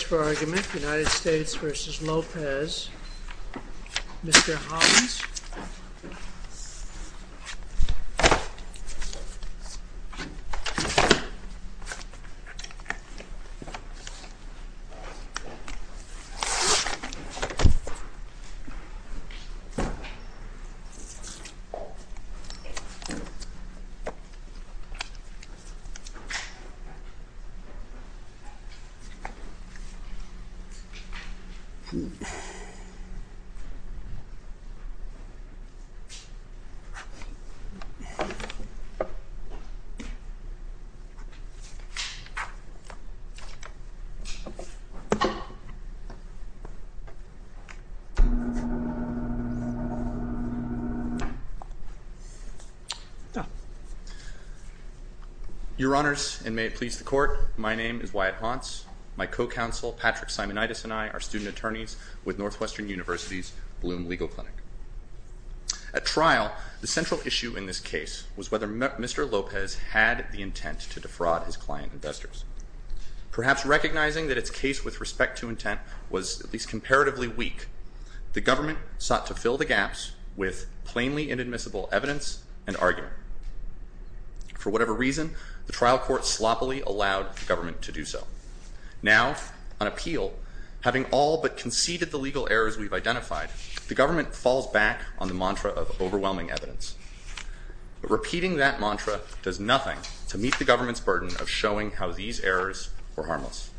United States v. Lopez Mr. Hollins Your Honors, and may it please the Court, my name is Wyatt Hauntz. My co-counsel Patrick Simonitis and I are student attorneys with Northwestern University's Bloom Legal Clinic. At trial, the central issue in this case was whether Mr. Lopez had the intent to defraud his client investors. Perhaps recognizing that its case with respect to intent was at least comparatively weak, the government sought to fill the gaps with plainly inadmissible evidence and argument. For whatever reason, the trial court sloppily allowed the government to do so. Now, on appeal, having all but conceded the legal errors we've identified, the government falls back on the mantra of overwhelming evidence. Repeating that mantra does nothing to meet the government's burden of showing how these errors were harmless.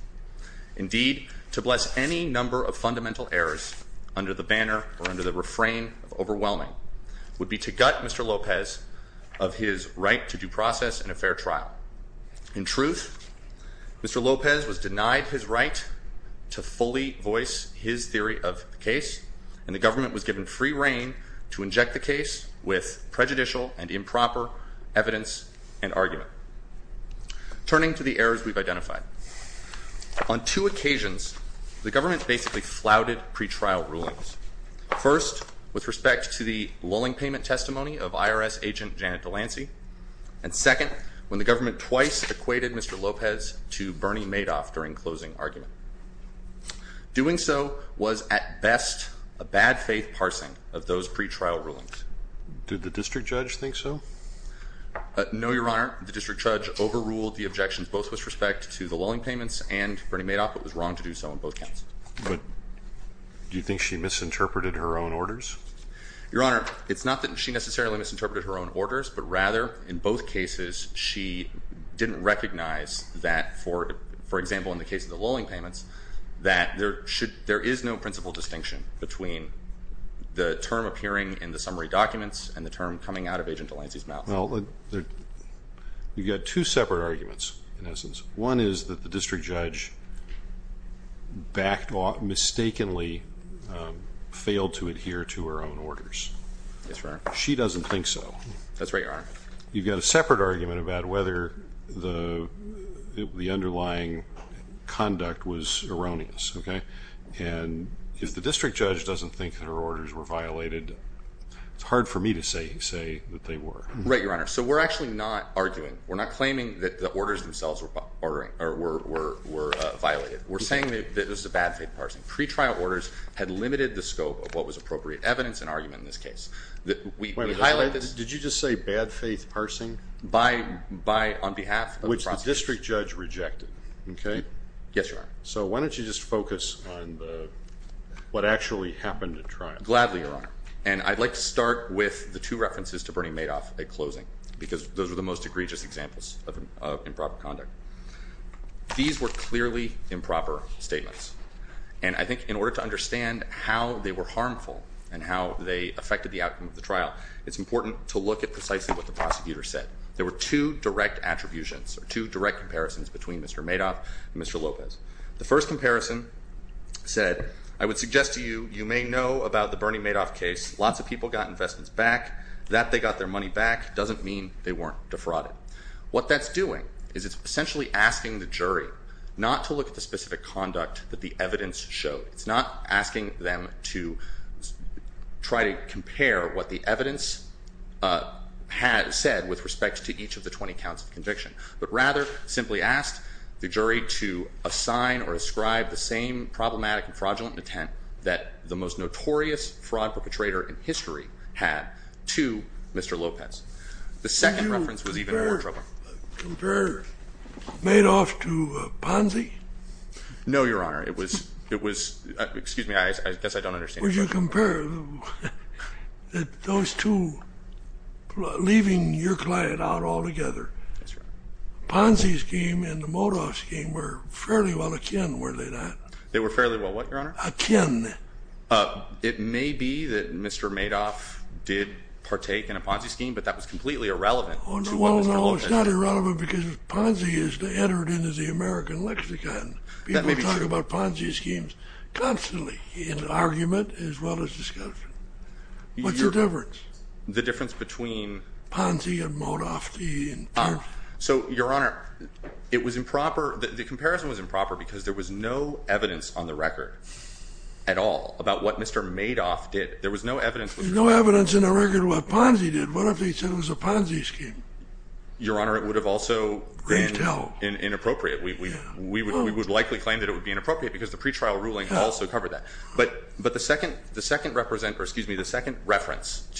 Indeed, to bless any number of fundamental errors under the banner or under the refrain of overwhelming would be to gut Mr. Lopez of his right to due process in a fair trial. In truth, Mr. Lopez was denied his right to fully voice his theory of the case, and the government was given free reign to inject the case with prejudicial and improper evidence and argument. Turning to the errors we've identified, on two occasions the government basically flouted pretrial rulings. First, with respect to the lulling payment testimony of IRS agent Janet DeLancey, and second, when the government twice equated Mr. Lopez to Bernie Madoff during closing argument. Doing so was at best a bad faith parsing of those pretrial rulings. Did the district judge think so? No, Your Honor. The district judge overruled the objections both with respect to the lulling payments and Bernie Madoff. It was wrong to do so on both counts. But do you think she misinterpreted her own orders? Your Honor, it's not that she necessarily misinterpreted her own orders, but rather in both cases she didn't recognize that, for example, in the case of the lulling payments, that there is no principal distinction between the term appearing in the summary documents and the term coming out of Agent DeLancey's mouth. Well, you've got two separate arguments in essence. One is that the district judge mistakenly failed to adhere to her own orders. Yes, Your Honor. She doesn't think so. That's right, Your Honor. You've got a separate argument about whether the underlying conduct was erroneous, okay? And if the district judge doesn't think her orders were violated, it's hard for me to say that they were. Right, Your Honor. So we're actually not arguing. We're not claiming that the orders themselves were violated. We're saying that this is a bad faith parsing. Pre-trial orders had limited the scope of what was appropriate evidence and argument in this case. Did you just say bad faith parsing? By on behalf of the prosecutor. Which the district judge rejected, okay? Yes, Your Honor. So why don't you just focus on what actually happened at trial? Gladly, Your Honor. And I'd like to start with the two references to Bernie Madoff at closing because those were the most egregious examples of improper conduct. These were clearly improper statements. And I think in order to understand how they were harmful and how they affected the outcome of the trial, it's important to look at precisely what the prosecutor said. There were two direct attributions or two direct comparisons between Mr. Madoff and Mr. Lopez. The first comparison said, I would suggest to you, you may know about the Bernie Madoff case. Lots of people got investments back. That they got their money back doesn't mean they weren't defrauded. What that's doing is it's essentially asking the jury not to look at the specific conduct that the evidence showed. It's not asking them to try to compare what the evidence said with respect to each of the 20 counts of conviction, but rather simply asked the jury to assign or ascribe the same problematic and fraudulent intent that the most notorious fraud perpetrator in history had to Mr. Lopez. The second reference was even more troubling. Would you compare Madoff to Ponzi? No, Your Honor. It was, excuse me, I guess I don't understand. Would you compare those two, leaving your client out altogether. Ponzi's scheme and the Madoff's scheme were fairly well akin, were they not? They were fairly well what, Your Honor? Akin. It may be that Mr. Madoff did partake in a Ponzi scheme, but that was completely irrelevant to Mr. Lopez. Well, no, it's not irrelevant because Ponzi is entered into the American lexicon. That may be true. People talk about Ponzi schemes constantly in argument as well as discussion. What's the difference? The difference between... Ponzi and Madoff. So, Your Honor, it was improper, the comparison was improper because there was no evidence on the record at all about what Mr. Madoff did. There was no evidence. There's no evidence in the record what Ponzi did. What if they said it was a Ponzi scheme? Your Honor, it would have also been inappropriate. We would likely claim that it would be inappropriate because the pretrial ruling also covered that. But the second reference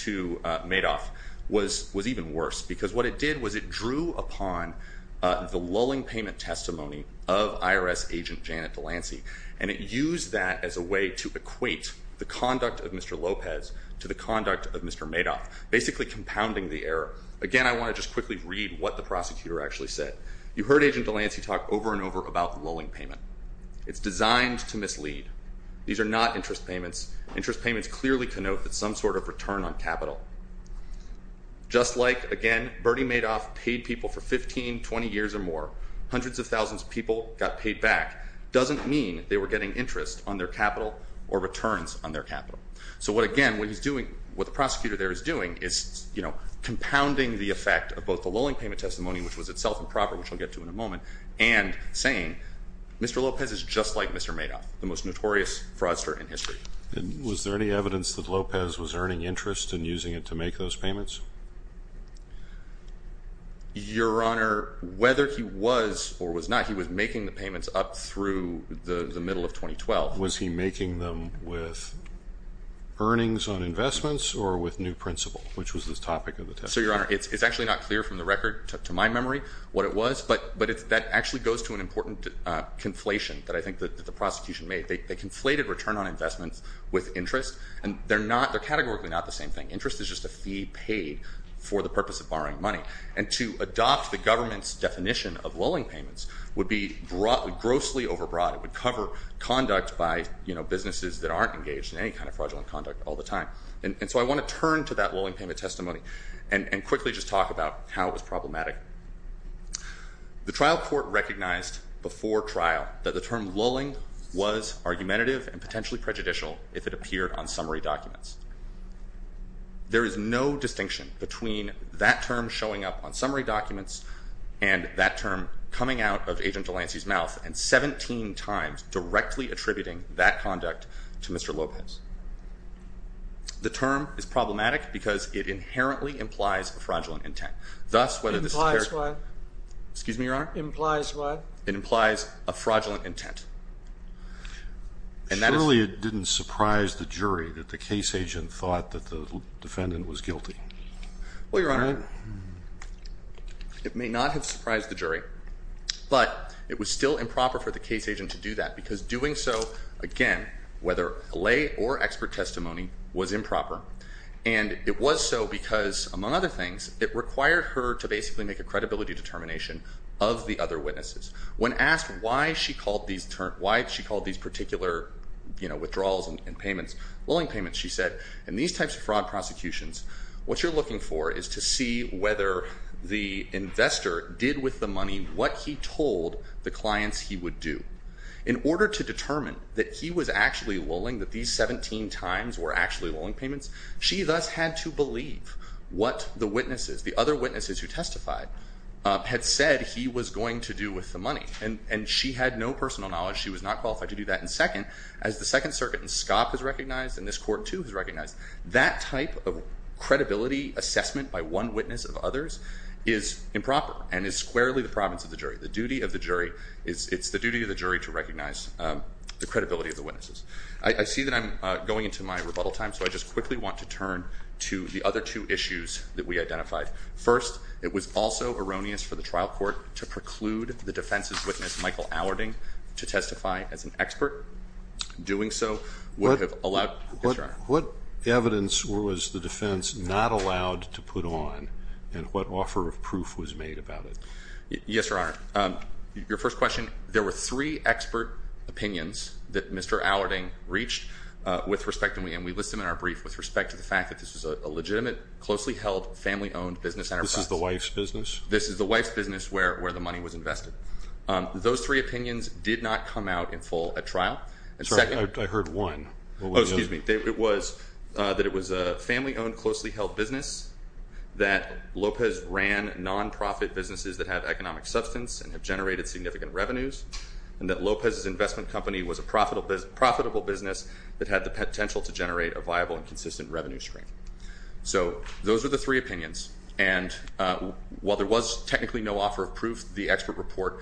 to Madoff was even worse because what it did was it drew upon the lulling payment testimony of IRS agent Janet Delancey, and it used that as a way to equate the conduct of Mr. Lopez to the conduct of Mr. Madoff, basically compounding the error. Again, I want to just quickly read what the prosecutor actually said. You heard Agent Delancey talk over and over about the lulling payment. It's designed to mislead. These are not interest payments. Interest payments clearly connote that some sort of return on capital. Just like, again, Bernie Madoff paid people for 15, 20 years or more, hundreds of thousands of people got paid back, doesn't mean they were getting interest on their capital or returns on their capital. So what, again, what he's doing, what the prosecutor there is doing is, you know, compounding the effect of both the lulling payment testimony, which was itself improper, which I'll get to in a moment, and saying Mr. Lopez is just like Mr. Madoff, the most notorious fraudster in history. And was there any evidence that Lopez was earning interest in using it to make those payments? Your Honor, whether he was or was not, he was making the payments up through the middle of 2012. Was he making them with earnings on investments or with new principal, which was the topic of the testimony? Sir, Your Honor, it's actually not clear from the record to my memory what it was, but that actually goes to an important conflation that I think that the prosecution made. They conflated return on investments with interest, and they're not, they're categorically not the same thing. Interest is just a fee paid for the purpose of borrowing money. And to adopt the government's definition of lulling payments would be grossly overbroad. It would cover conduct by, you know, businesses that aren't engaged in any kind of fraudulent conduct all the time. And so I want to turn to that lulling payment testimony and quickly just talk about how it was problematic. The trial court recognized before trial that the term lulling was argumentative and potentially prejudicial if it appeared on summary documents. There is no distinction between that term showing up on summary documents and that term coming out of Agent DeLancey's mouth and 17 times directly attributing that conduct to Mr. Lopez. The term is problematic because it inherently implies a fraudulent intent. It implies what? Excuse me, Your Honor? It implies what? It implies a fraudulent intent. Surely it didn't surprise the jury that the case agent thought that the defendant was guilty. Well, Your Honor, it may not have surprised the jury, but it was still improper for the case agent to do that because doing so, again, whether a lay or expert testimony, was improper. And it was so because, among other things, it required her to basically make a credibility determination of the other witnesses. When asked why she called these particular withdrawals and payments lulling payments, she said, in these types of fraud prosecutions, what you're looking for is to see whether the investor did with the money what he told the clients he would do. In order to determine that he was actually lulling, that these 17 times were actually lulling payments, she thus had to believe what the witnesses, the other witnesses who testified, had said he was going to do with the money. And she had no personal knowledge. She was not qualified to do that. And second, as the Second Circuit and SCOP has recognized, and this court too has recognized, that type of credibility assessment by one witness of others is improper and is squarely the province of the jury. The duty of the jury, it's the duty of the jury to recognize the credibility of the witnesses. I see that I'm going into my rebuttal time, so I just quickly want to turn to the other two issues that we identified. First, it was also erroneous for the trial court to preclude the defense's witness, Michael Allarding, to testify as an expert. Doing so would have allowed. Yes, Your Honor. What evidence was the defense not allowed to put on, and what offer of proof was made about it? Yes, Your Honor. Your first question, there were three expert opinions that Mr. Allarding reached with respect to me, and we list them in our brief with respect to the fact that this was a legitimate, closely held, family-owned business enterprise. This is the wife's business? This is the wife's business where the money was invested. Those three opinions did not come out in full at trial. I heard one. Oh, excuse me. It was that it was a family-owned, closely held business, that Lopez ran nonprofit businesses that have economic substance and have generated significant revenues, and that Lopez's investment company was a profitable business that had the potential to generate a viable and consistent revenue stream. So those are the three opinions. And while there was technically no offer of proof, the expert report,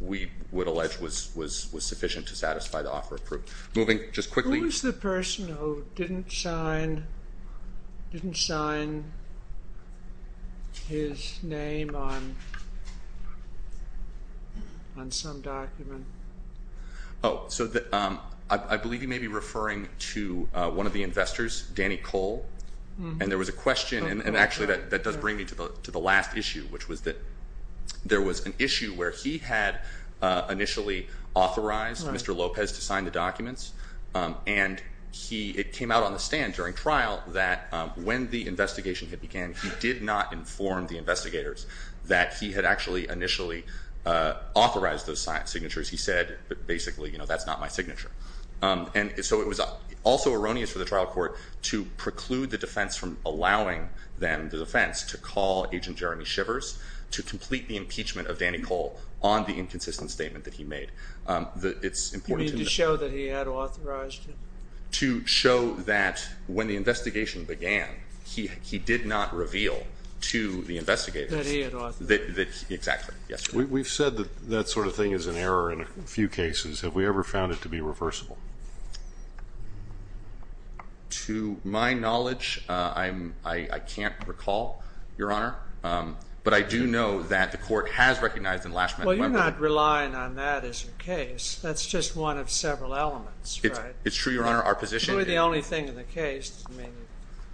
we would allege, was sufficient to satisfy the offer of proof. Moving just quickly. Who was the person who didn't sign his name on some document? Oh, so I believe you may be referring to one of the investors, Danny Cole. And there was a question, and actually that does bring me to the last issue, which was that there was an issue where he had initially authorized Mr. Lopez to sign the documents, and it came out on the stand during trial that when the investigation had began, he did not inform the investigators that he had actually initially authorized those signatures. He said, basically, you know, that's not my signature. And so it was also erroneous for the trial court to preclude the defense from allowing them, the defense, to call Agent Jeremy Shivers to complete the impeachment of Danny Cole on the inconsistent statement that he made. You mean to show that he had authorized him? To show that when the investigation began, he did not reveal to the investigators. That he had authorized him. Exactly. Yes, sir. We've said that that sort of thing is an error in a few cases. Have we ever found it to be reversible? To my knowledge, I can't recall, Your Honor. But I do know that the court has recognized in Lashman and Wembley. Well, you're not relying on that as your case. That's just one of several elements, right? It's true, Your Honor. It's really the only thing in the case.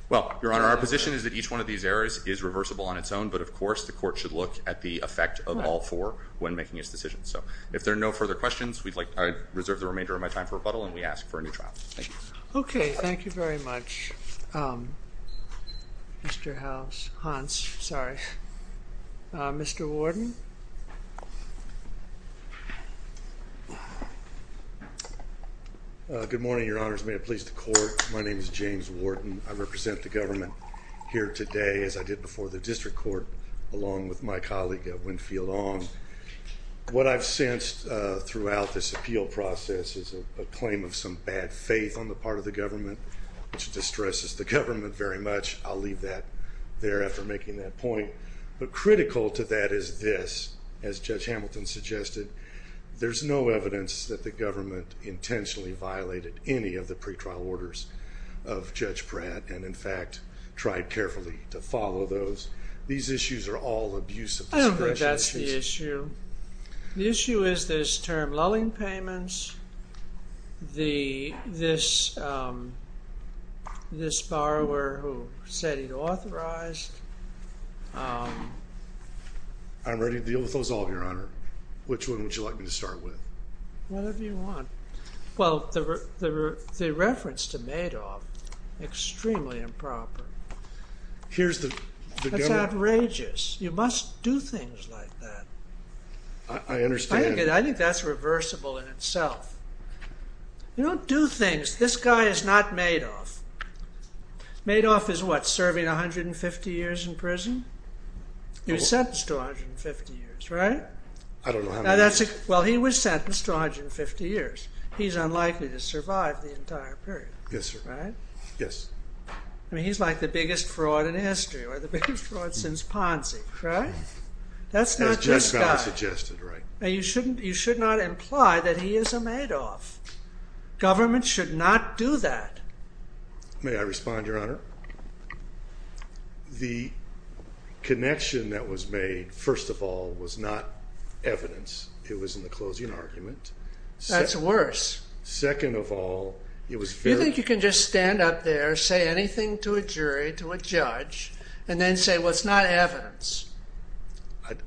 Well, Your Honor, our position is that each one of these errors is reversible on its own, but of course the court should look at the effect of all four when making its decisions. So, if there are no further questions, I reserve the remainder of my time for rebuttal and we ask for a new trial. Thank you. Okay. Thank you very much, Mr. Hans. Sorry. Mr. Wharton? Good morning, Your Honors. May it please the court. My name is James Wharton. I represent the government here today, as I did before the district court, along with my colleague, Winfield Ong. What I've sensed throughout this appeal process is a claim of some bad faith on the part of the government, which distresses the government very much. I'll leave that there after making that point. But critical to that is this. As Judge Hamilton suggested, there's no evidence that the government intentionally violated any of the pretrial orders of Judge Pratt and, in fact, tried carefully to follow those. These issues are all abuse of discretion. That's the issue. The issue is this term, lulling payments. This borrower who said he'd authorized. I'm ready to deal with those all, Your Honor. Which one would you like me to start with? Whatever you want. Well, the reference to Madoff, extremely improper. Here's the government. That's outrageous. You must do things like that. I understand. I think that's reversible in itself. You don't do things. This guy is not Madoff. Madoff is what, serving 150 years in prison? He was sentenced to 150 years, right? I don't know how many years. Well, he was sentenced to 150 years. He's unlikely to survive the entire period. Yes, sir. Right? Yes. I mean, he's like the biggest fraud in history, or the biggest fraud since Ponzi, right? That's not this guy. As Judge Bally suggested, right. You should not imply that he is a Madoff. Government should not do that. May I respond, Your Honor? The connection that was made, first of all, was not evidence. It was in the closing argument. That's worse. Second of all, it was very... Do you think you can just stand up there, say anything to a jury, to a judge, and then say, well, it's not evidence?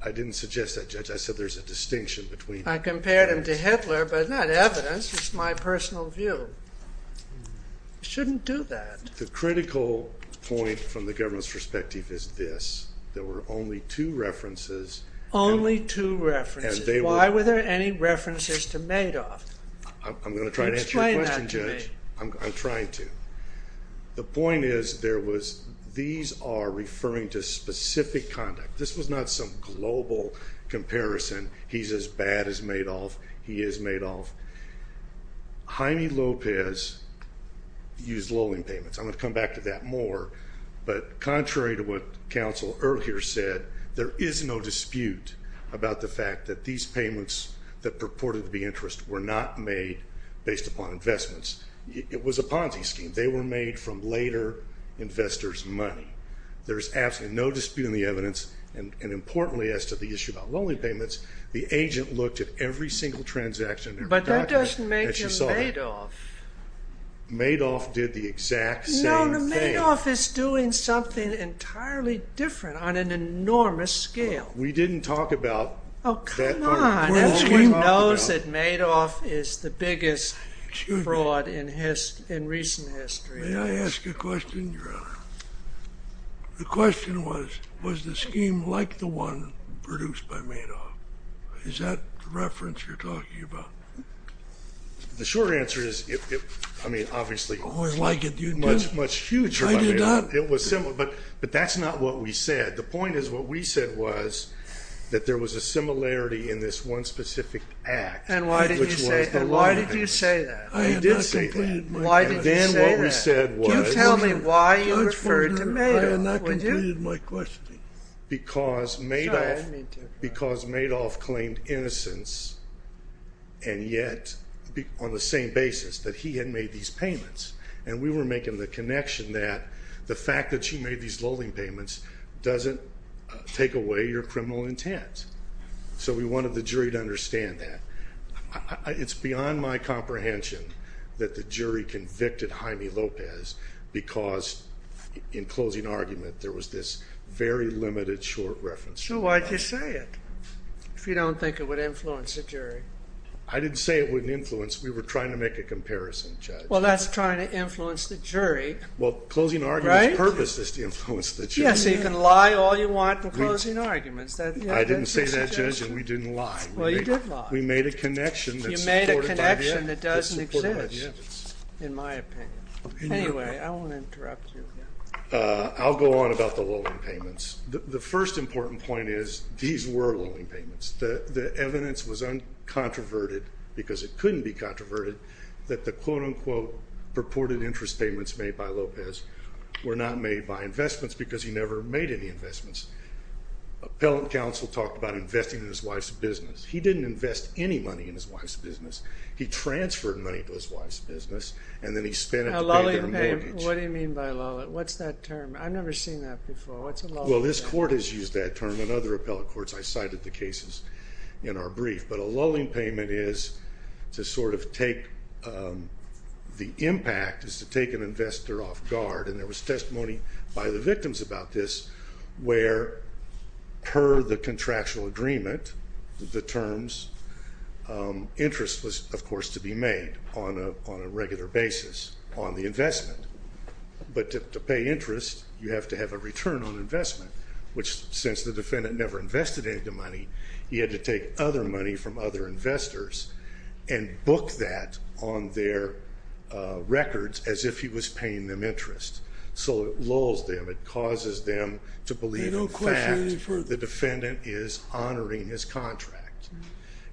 I didn't suggest that, Judge. I said there's a distinction between... I compared him to Hitler, but not evidence. It's my personal view. You shouldn't do that. The critical point from the government's perspective is this. There were only two references... Only two references. I'm going to try to answer your question, Judge. I'm trying to. The point is there was... These are referring to specific conduct. This was not some global comparison. He's as bad as Madoff. He is Madoff. Jaime Lopez used loaning payments. I'm going to come back to that more. But contrary to what counsel earlier said, there is no dispute about the fact that these payments that purported to be interest were not made based upon investments. It was a Ponzi scheme. They were made from later investors' money. There is absolutely no dispute in the evidence, and importantly as to the issue about loaning payments, the agent looked at every single transaction... But that doesn't make him Madoff. Madoff did the exact same thing. No, Madoff is doing something entirely different on an enormous scale. We didn't talk about... Oh, come on. Everybody knows that Madoff is the biggest fraud in recent history. May I ask a question, Your Honor? The question was, was the scheme like the one produced by Madoff? Is that the reference you're talking about? The short answer is, I mean, obviously... Oh, I like it. Much, much huger by Madoff. It was similar. But that's not what we said. The point is what we said was that there was a similarity in this one specific act. And why did you say that? I did say that. Why did you say that? You tell me why you referred to Madoff. I have not completed my questioning. Because Madoff claimed innocence, and yet on the same basis, that he had made these payments. And we were making the connection that the fact that she made these loaning payments doesn't take away your criminal intent. So we wanted the jury to understand that. It's beyond my comprehension that the jury convicted Jaime Lopez because in closing argument there was this very limited short reference. So why'd you say it if you don't think it would influence the jury? I didn't say it wouldn't influence. We were trying to make a comparison, Judge. Well, that's trying to influence the jury. Well, closing argument's purpose is to influence the jury. Yeah, so you can lie all you want in closing arguments. I didn't say that, Judge, and we didn't lie. Well, you did lie. We made a connection. You made a connection that doesn't exist, in my opinion. Anyway, I won't interrupt you. I'll go on about the loaning payments. The first important point is these were loaning payments. The evidence was uncontroverted, because it couldn't be controverted, that the quote-unquote purported interest payments made by Lopez were not made by investments because he never made any investments. Appellant counsel talked about investing in his wife's business. He didn't invest any money in his wife's business. He transferred money to his wife's business, and then he spent it to pay their mortgage. Now, loaning payment, what do you mean by loaning? What's that term? I've never seen that before. What's a loaning payment? Well, this court has used that term in other appellate courts. I cited the cases in our brief. But a loaning payment is to sort of take the impact, is to take an investor off guard. And there was testimony by the victims about this, where per the contractual agreement, the terms, interest was, of course, to be made on a regular basis on the investment. But to pay interest, you have to have a return on investment, which since the defendant never invested any of the money, he had to take other money from other investors and book that on their records as if he was paying them interest. So it lulls them. It causes them to believe, in fact, the defendant is honoring his contract.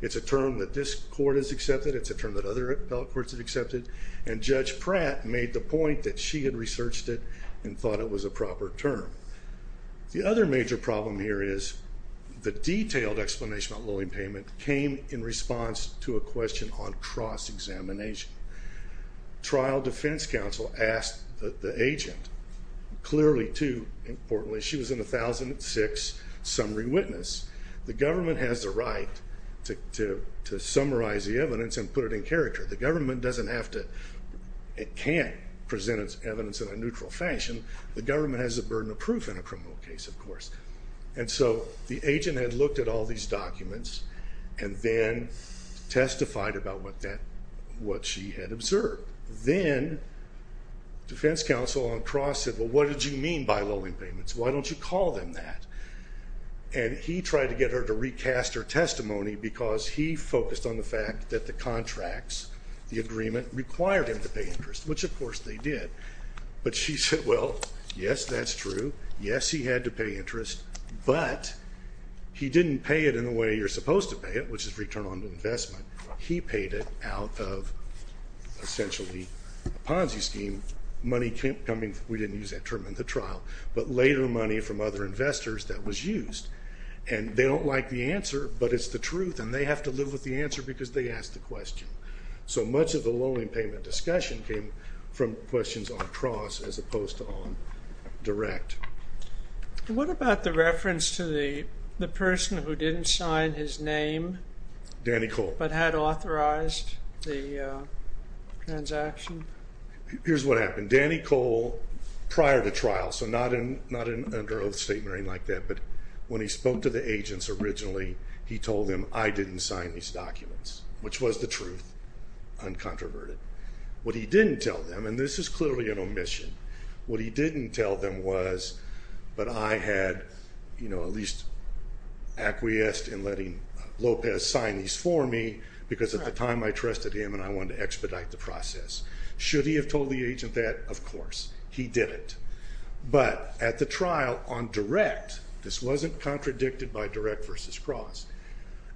It's a term that this court has accepted. It's a term that other appellate courts have accepted. And Judge Pratt made the point that she had researched it and thought it was a proper term. The other major problem here is the detailed explanation about loaning payment came in response to a question on cross-examination. Trial defense counsel asked the agent, clearly too importantly, she was an 1006 summary witness, the government has the right to summarize the evidence and put it in character. The government doesn't have to, it can't present its evidence in a neutral fashion. The government has the burden of proof in a criminal case, of course. And so the agent had looked at all these documents and then testified about what she had observed. Then defense counsel on cross said, well, what did you mean by loaning payments? Why don't you call them that? And he tried to get her to recast her testimony because he focused on the fact that the contracts, the agreement, required him to pay interest, which of course they did. But she said, well, yes, that's true. Yes, he had to pay interest, but he didn't pay it in the way you're supposed to pay it, which is return on investment. He paid it out of essentially a Ponzi scheme, money coming, we didn't use that term in the trial, but later money from other investors that was used. And they don't like the answer, but it's the truth, and they have to live with the answer because they asked the question. So much of the loaning payment discussion came from questions on cross as opposed to on direct. What about the reference to the person who didn't sign his name? Danny Cole. But had authorized the transaction? Here's what happened. Danny Cole, prior to trial, so not an under oath statement or anything like that, but when he spoke to the agents originally, he told them I didn't sign these documents, which was the truth, uncontroverted. What he didn't tell them, and this is clearly an omission, what he didn't tell them was, but I had, you know, at least acquiesced in letting Lopez sign these for me because at the time I trusted him and I wanted to expedite the process. Should he have told the agent that? Of course, he didn't. But at the trial on direct, this wasn't contradicted by direct versus cross,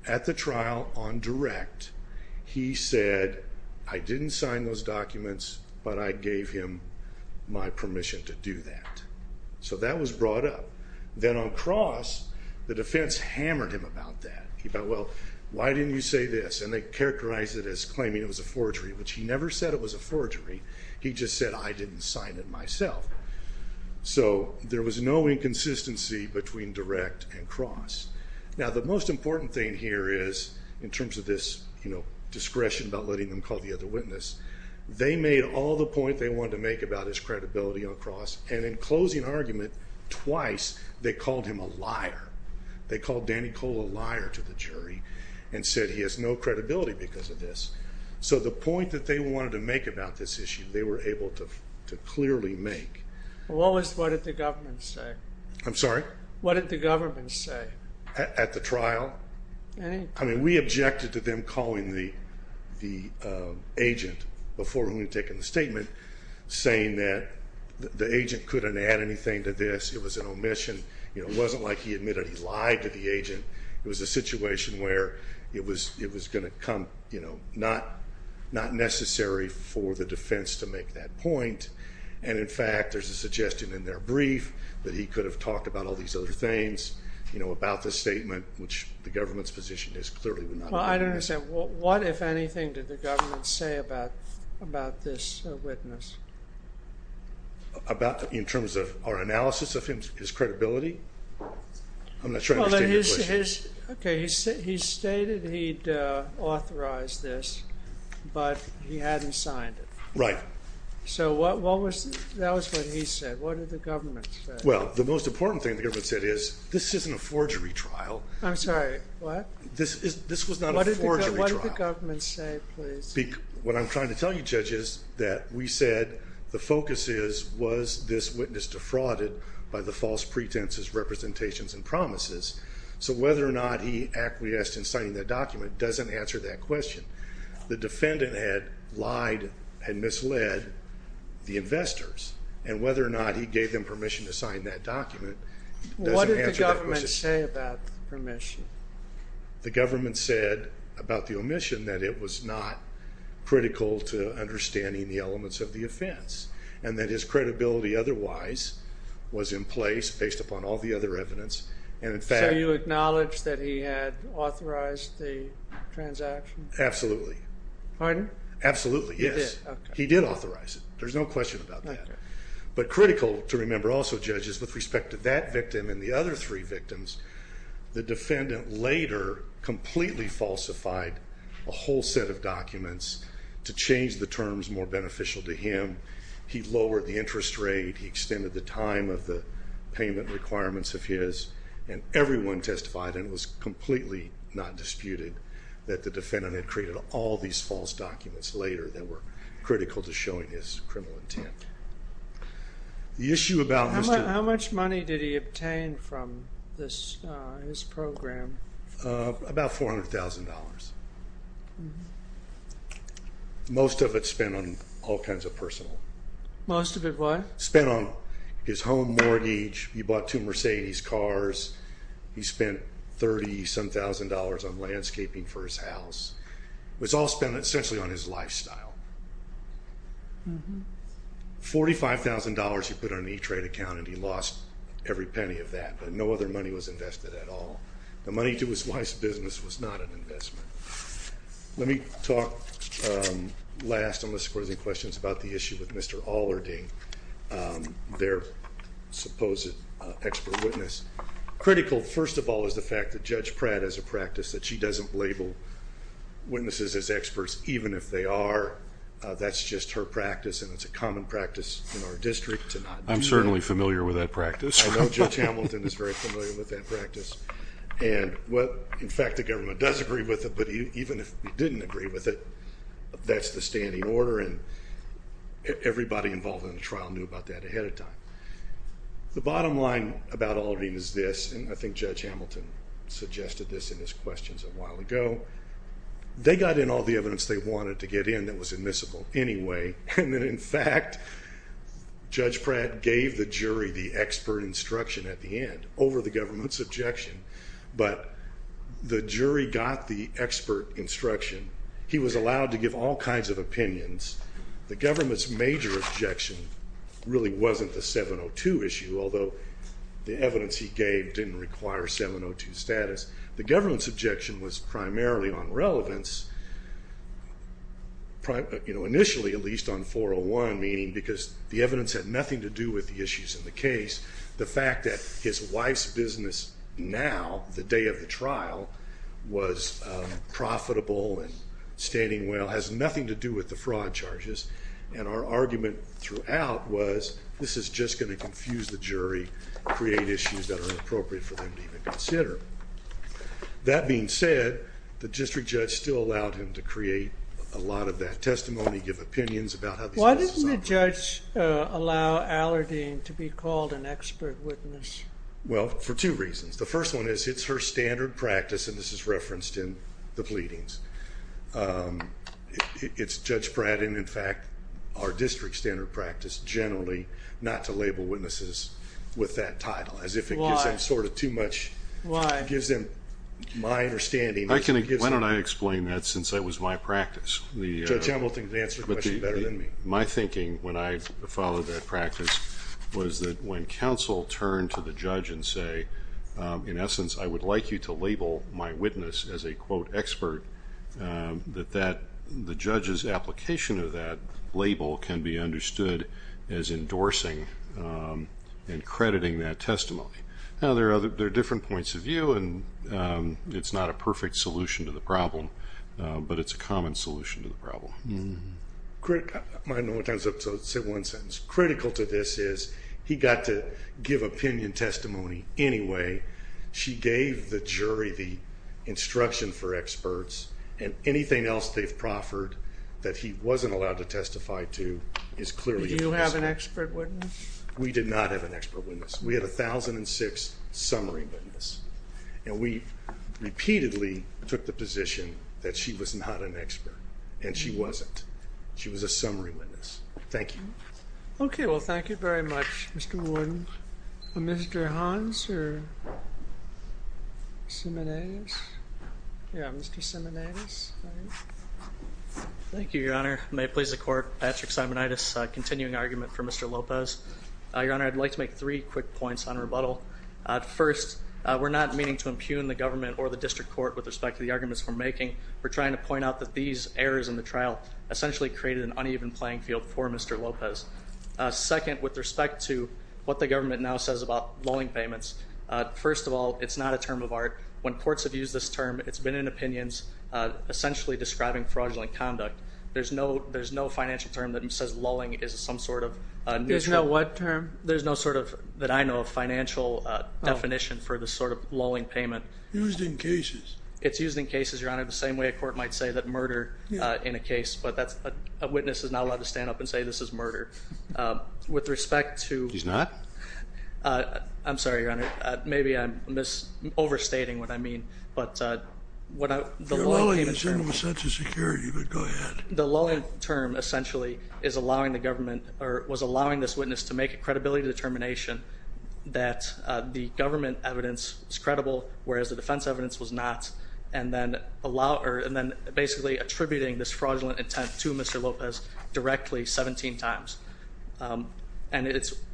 at the trial on direct, he said, I didn't sign those documents, but I gave him my permission to do that. So that was brought up. Then on cross, the defense hammered him about that. He thought, well, why didn't you say this? And they characterized it as claiming it was a forgery, which he never said it was a forgery. He just said, I didn't sign it myself. So there was no inconsistency between direct and cross. Now, the most important thing here is, in terms of this, you know, discretion about letting them call the other witness, they made all the point they wanted to make about his credibility on cross, and in closing argument, twice they called him a liar. They called Danny Cole a liar to the jury and said he has no credibility because of this. So the point that they wanted to make about this issue, they were able to clearly make. What did the government say? I'm sorry? What did the government say? At the trial? I mean, we objected to them calling the agent before we had taken the statement, saying that the agent couldn't add anything to this. It was an omission. You know, it wasn't like he admitted he lied to the agent. It was a situation where it was going to come, you know, not necessary for the defense to make that point. And, in fact, there's a suggestion in their brief that he could have talked about all these other things, you know, about this statement, which the government's position is clearly would not have been. Well, I don't understand. What, if anything, did the government say about this witness? About, in terms of our analysis of his credibility? I'm not sure I understand your question. Okay, he stated he'd authorized this, but he hadn't signed it. Right. So what was, that was what he said. What did the government say? Well, the most important thing the government said is, this isn't a forgery trial. I'm sorry, what? This was not a forgery trial. What did the government say, please? What I'm trying to tell you, Judge, is that we said the focus is, was this witness defrauded by the false pretenses, representations, and promises? So whether or not he acquiesced in signing that document doesn't answer that question. The defendant had lied, had misled the investors, and whether or not he gave them permission to sign that document doesn't answer that question. What did the government say about the permission? The government said about the omission that it was not critical to understanding the elements of the offense, and that his credibility otherwise was in place, based upon all the other evidence. So you acknowledge that he had authorized the transaction? Absolutely. Pardon? Absolutely, yes. He did, okay. He did authorize it. There's no question about that. But critical to remember also, Judge, is with respect to that victim and the other three victims, the defendant later completely falsified a whole set of documents to change the terms more beneficial to him. He lowered the interest rate. He extended the time of the payment requirements of his. And everyone testified, and it was completely not disputed, that the defendant had created all these false documents later that were critical to showing his criminal intent. How much money did he obtain from this program? About $400,000. Most of it spent on all kinds of personal. Most of it what? Spent on his home mortgage. He bought two Mercedes cars. He spent $30-some-thousand on landscaping for his house. It was all spent essentially on his lifestyle. $45,000 he put on an E-Trade account, and he lost every penny of that. But no other money was invested at all. The money to his wife's business was not an investment. Let me talk last, unless there are any questions, about the issue with Mr. Allerding, their supposed expert witness. Critical, first of all, is the fact that Judge Pratt has a practice that she doesn't label witnesses as experts, even if they are. That's just her practice, and it's a common practice in our district to not do that. I'm certainly familiar with that practice. I know Judge Hamilton is very familiar with that practice. In fact, the government does agree with it, but even if it didn't agree with it, that's the standing order, and everybody involved in the trial knew about that ahead of time. The bottom line about Allerding is this, and I think Judge Hamilton suggested this in his questions a while ago. They got in all the evidence they wanted to get in that was admissible anyway, and then, in fact, Judge Pratt gave the jury the expert instruction at the end over the government's objection. But the jury got the expert instruction. He was allowed to give all kinds of opinions. The government's major objection really wasn't the 702 issue, although the evidence he gave didn't require 702 status. The government's objection was primarily on relevance, initially at least on 401, meaning because the evidence had nothing to do with the issues in the case. The fact that his wife's business now, the day of the trial, was profitable and standing well has nothing to do with the fraud charges, and our argument throughout was this is just going to confuse the jury, create issues that are inappropriate for them to even consider. That being said, the district judge still allowed him to create a lot of that testimony, give opinions about how these cases operate. Why didn't the judge allow Allerding to be called an expert witness? Well, for two reasons. The first one is it's her standard practice, and this is referenced in the pleadings. It's Judge Pratt and, in fact, our district standard practice generally not to label witnesses with that title as if it gives them too much. Why? It gives them my understanding. Why don't I explain that since that was my practice? Judge Hamilton can answer the question better than me. My thinking when I followed that practice was that when counsel turned to the judge and say, in essence, I would like you to label my witness as a, quote, expert, that the judge's application of that label can be understood as endorsing and crediting that testimony. Now, there are different points of view, and it's not a perfect solution to the problem, but it's a common solution to the problem. I don't know what time is up, so I'll say one sentence. What's critical to this is he got to give opinion testimony anyway. She gave the jury the instruction for experts, and anything else they've proffered that he wasn't allowed to testify to is clearly a mistake. Did you have an expert witness? We did not have an expert witness. We had a 1006 summary witness, and we repeatedly took the position that she was not an expert, and she wasn't. She was a summary witness. Thank you. Okay, well, thank you very much, Mr. Wood. Mr. Hans or Simonides? Yeah, Mr. Simonides. Thank you, Your Honor. May it please the Court, Patrick Simonides, continuing argument for Mr. Lopez. Your Honor, I'd like to make three quick points on rebuttal. First, we're not meaning to impugn the government or the district court with respect to the arguments we're making. We're trying to point out that these errors in the trial essentially created an uneven playing field for Mr. Lopez. Second, with respect to what the government now says about lulling payments, first of all, it's not a term of art. When courts have used this term, it's been in opinions essentially describing fraudulent conduct. There's no financial term that says lulling is some sort of neutral. There's no what term? There's no sort of, that I know of, financial definition for this sort of lulling payment. Used in cases. It's used in cases, Your Honor, the same way a court might say that murder in a case, but a witness is not allowed to stand up and say this is murder. With respect to... He's not? I'm sorry, Your Honor. Maybe I'm overstating what I mean. You're lulling us in with such a security, but go ahead. The lulling term essentially is allowing the government or was allowing this witness to make a credibility determination that the government evidence was credible, whereas the defense evidence was not, and then basically attributing this fraudulent intent to Mr. Lopez directly 17 times. And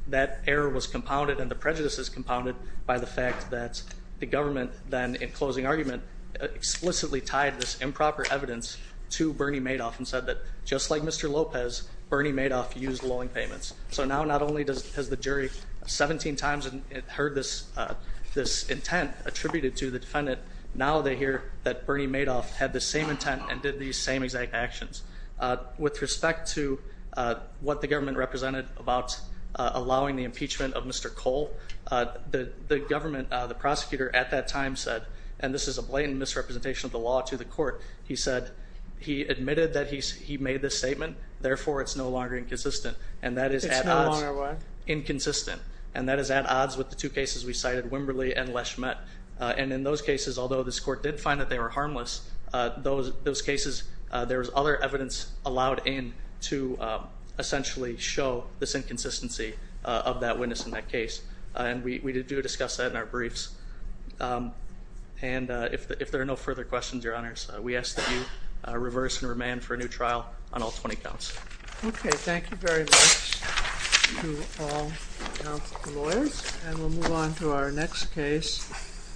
that error was compounded and the prejudice is compounded by the fact that the government then, in closing argument, explicitly tied this improper evidence to Bernie Madoff and said that just like Mr. Lopez, Bernie Madoff used lulling payments. So now not only has the jury 17 times heard this intent attributed to the defendant, now they hear that Bernie Madoff had the same intent and did these same exact actions. With respect to what the government represented about allowing the impeachment of Mr. Cole, the government, the prosecutor at that time said, and this is a blatant misrepresentation of the law to the court, he said he admitted that he made this statement, therefore it's no longer inconsistent. It's no longer what? Inconsistent. And that is at odds with the two cases we cited, Wimberley and Lesch-Mett. And in those cases, although this court did find that they were harmless, those cases, there was other evidence allowed in to essentially show this inconsistency of that witness in that case. And we do discuss that in our briefs. And if there are no further questions, Your Honors, we ask that you reverse and remand for a new trial on all 20 counts. Okay, thank you very much to all of the lawyers. And we'll move on to our next case.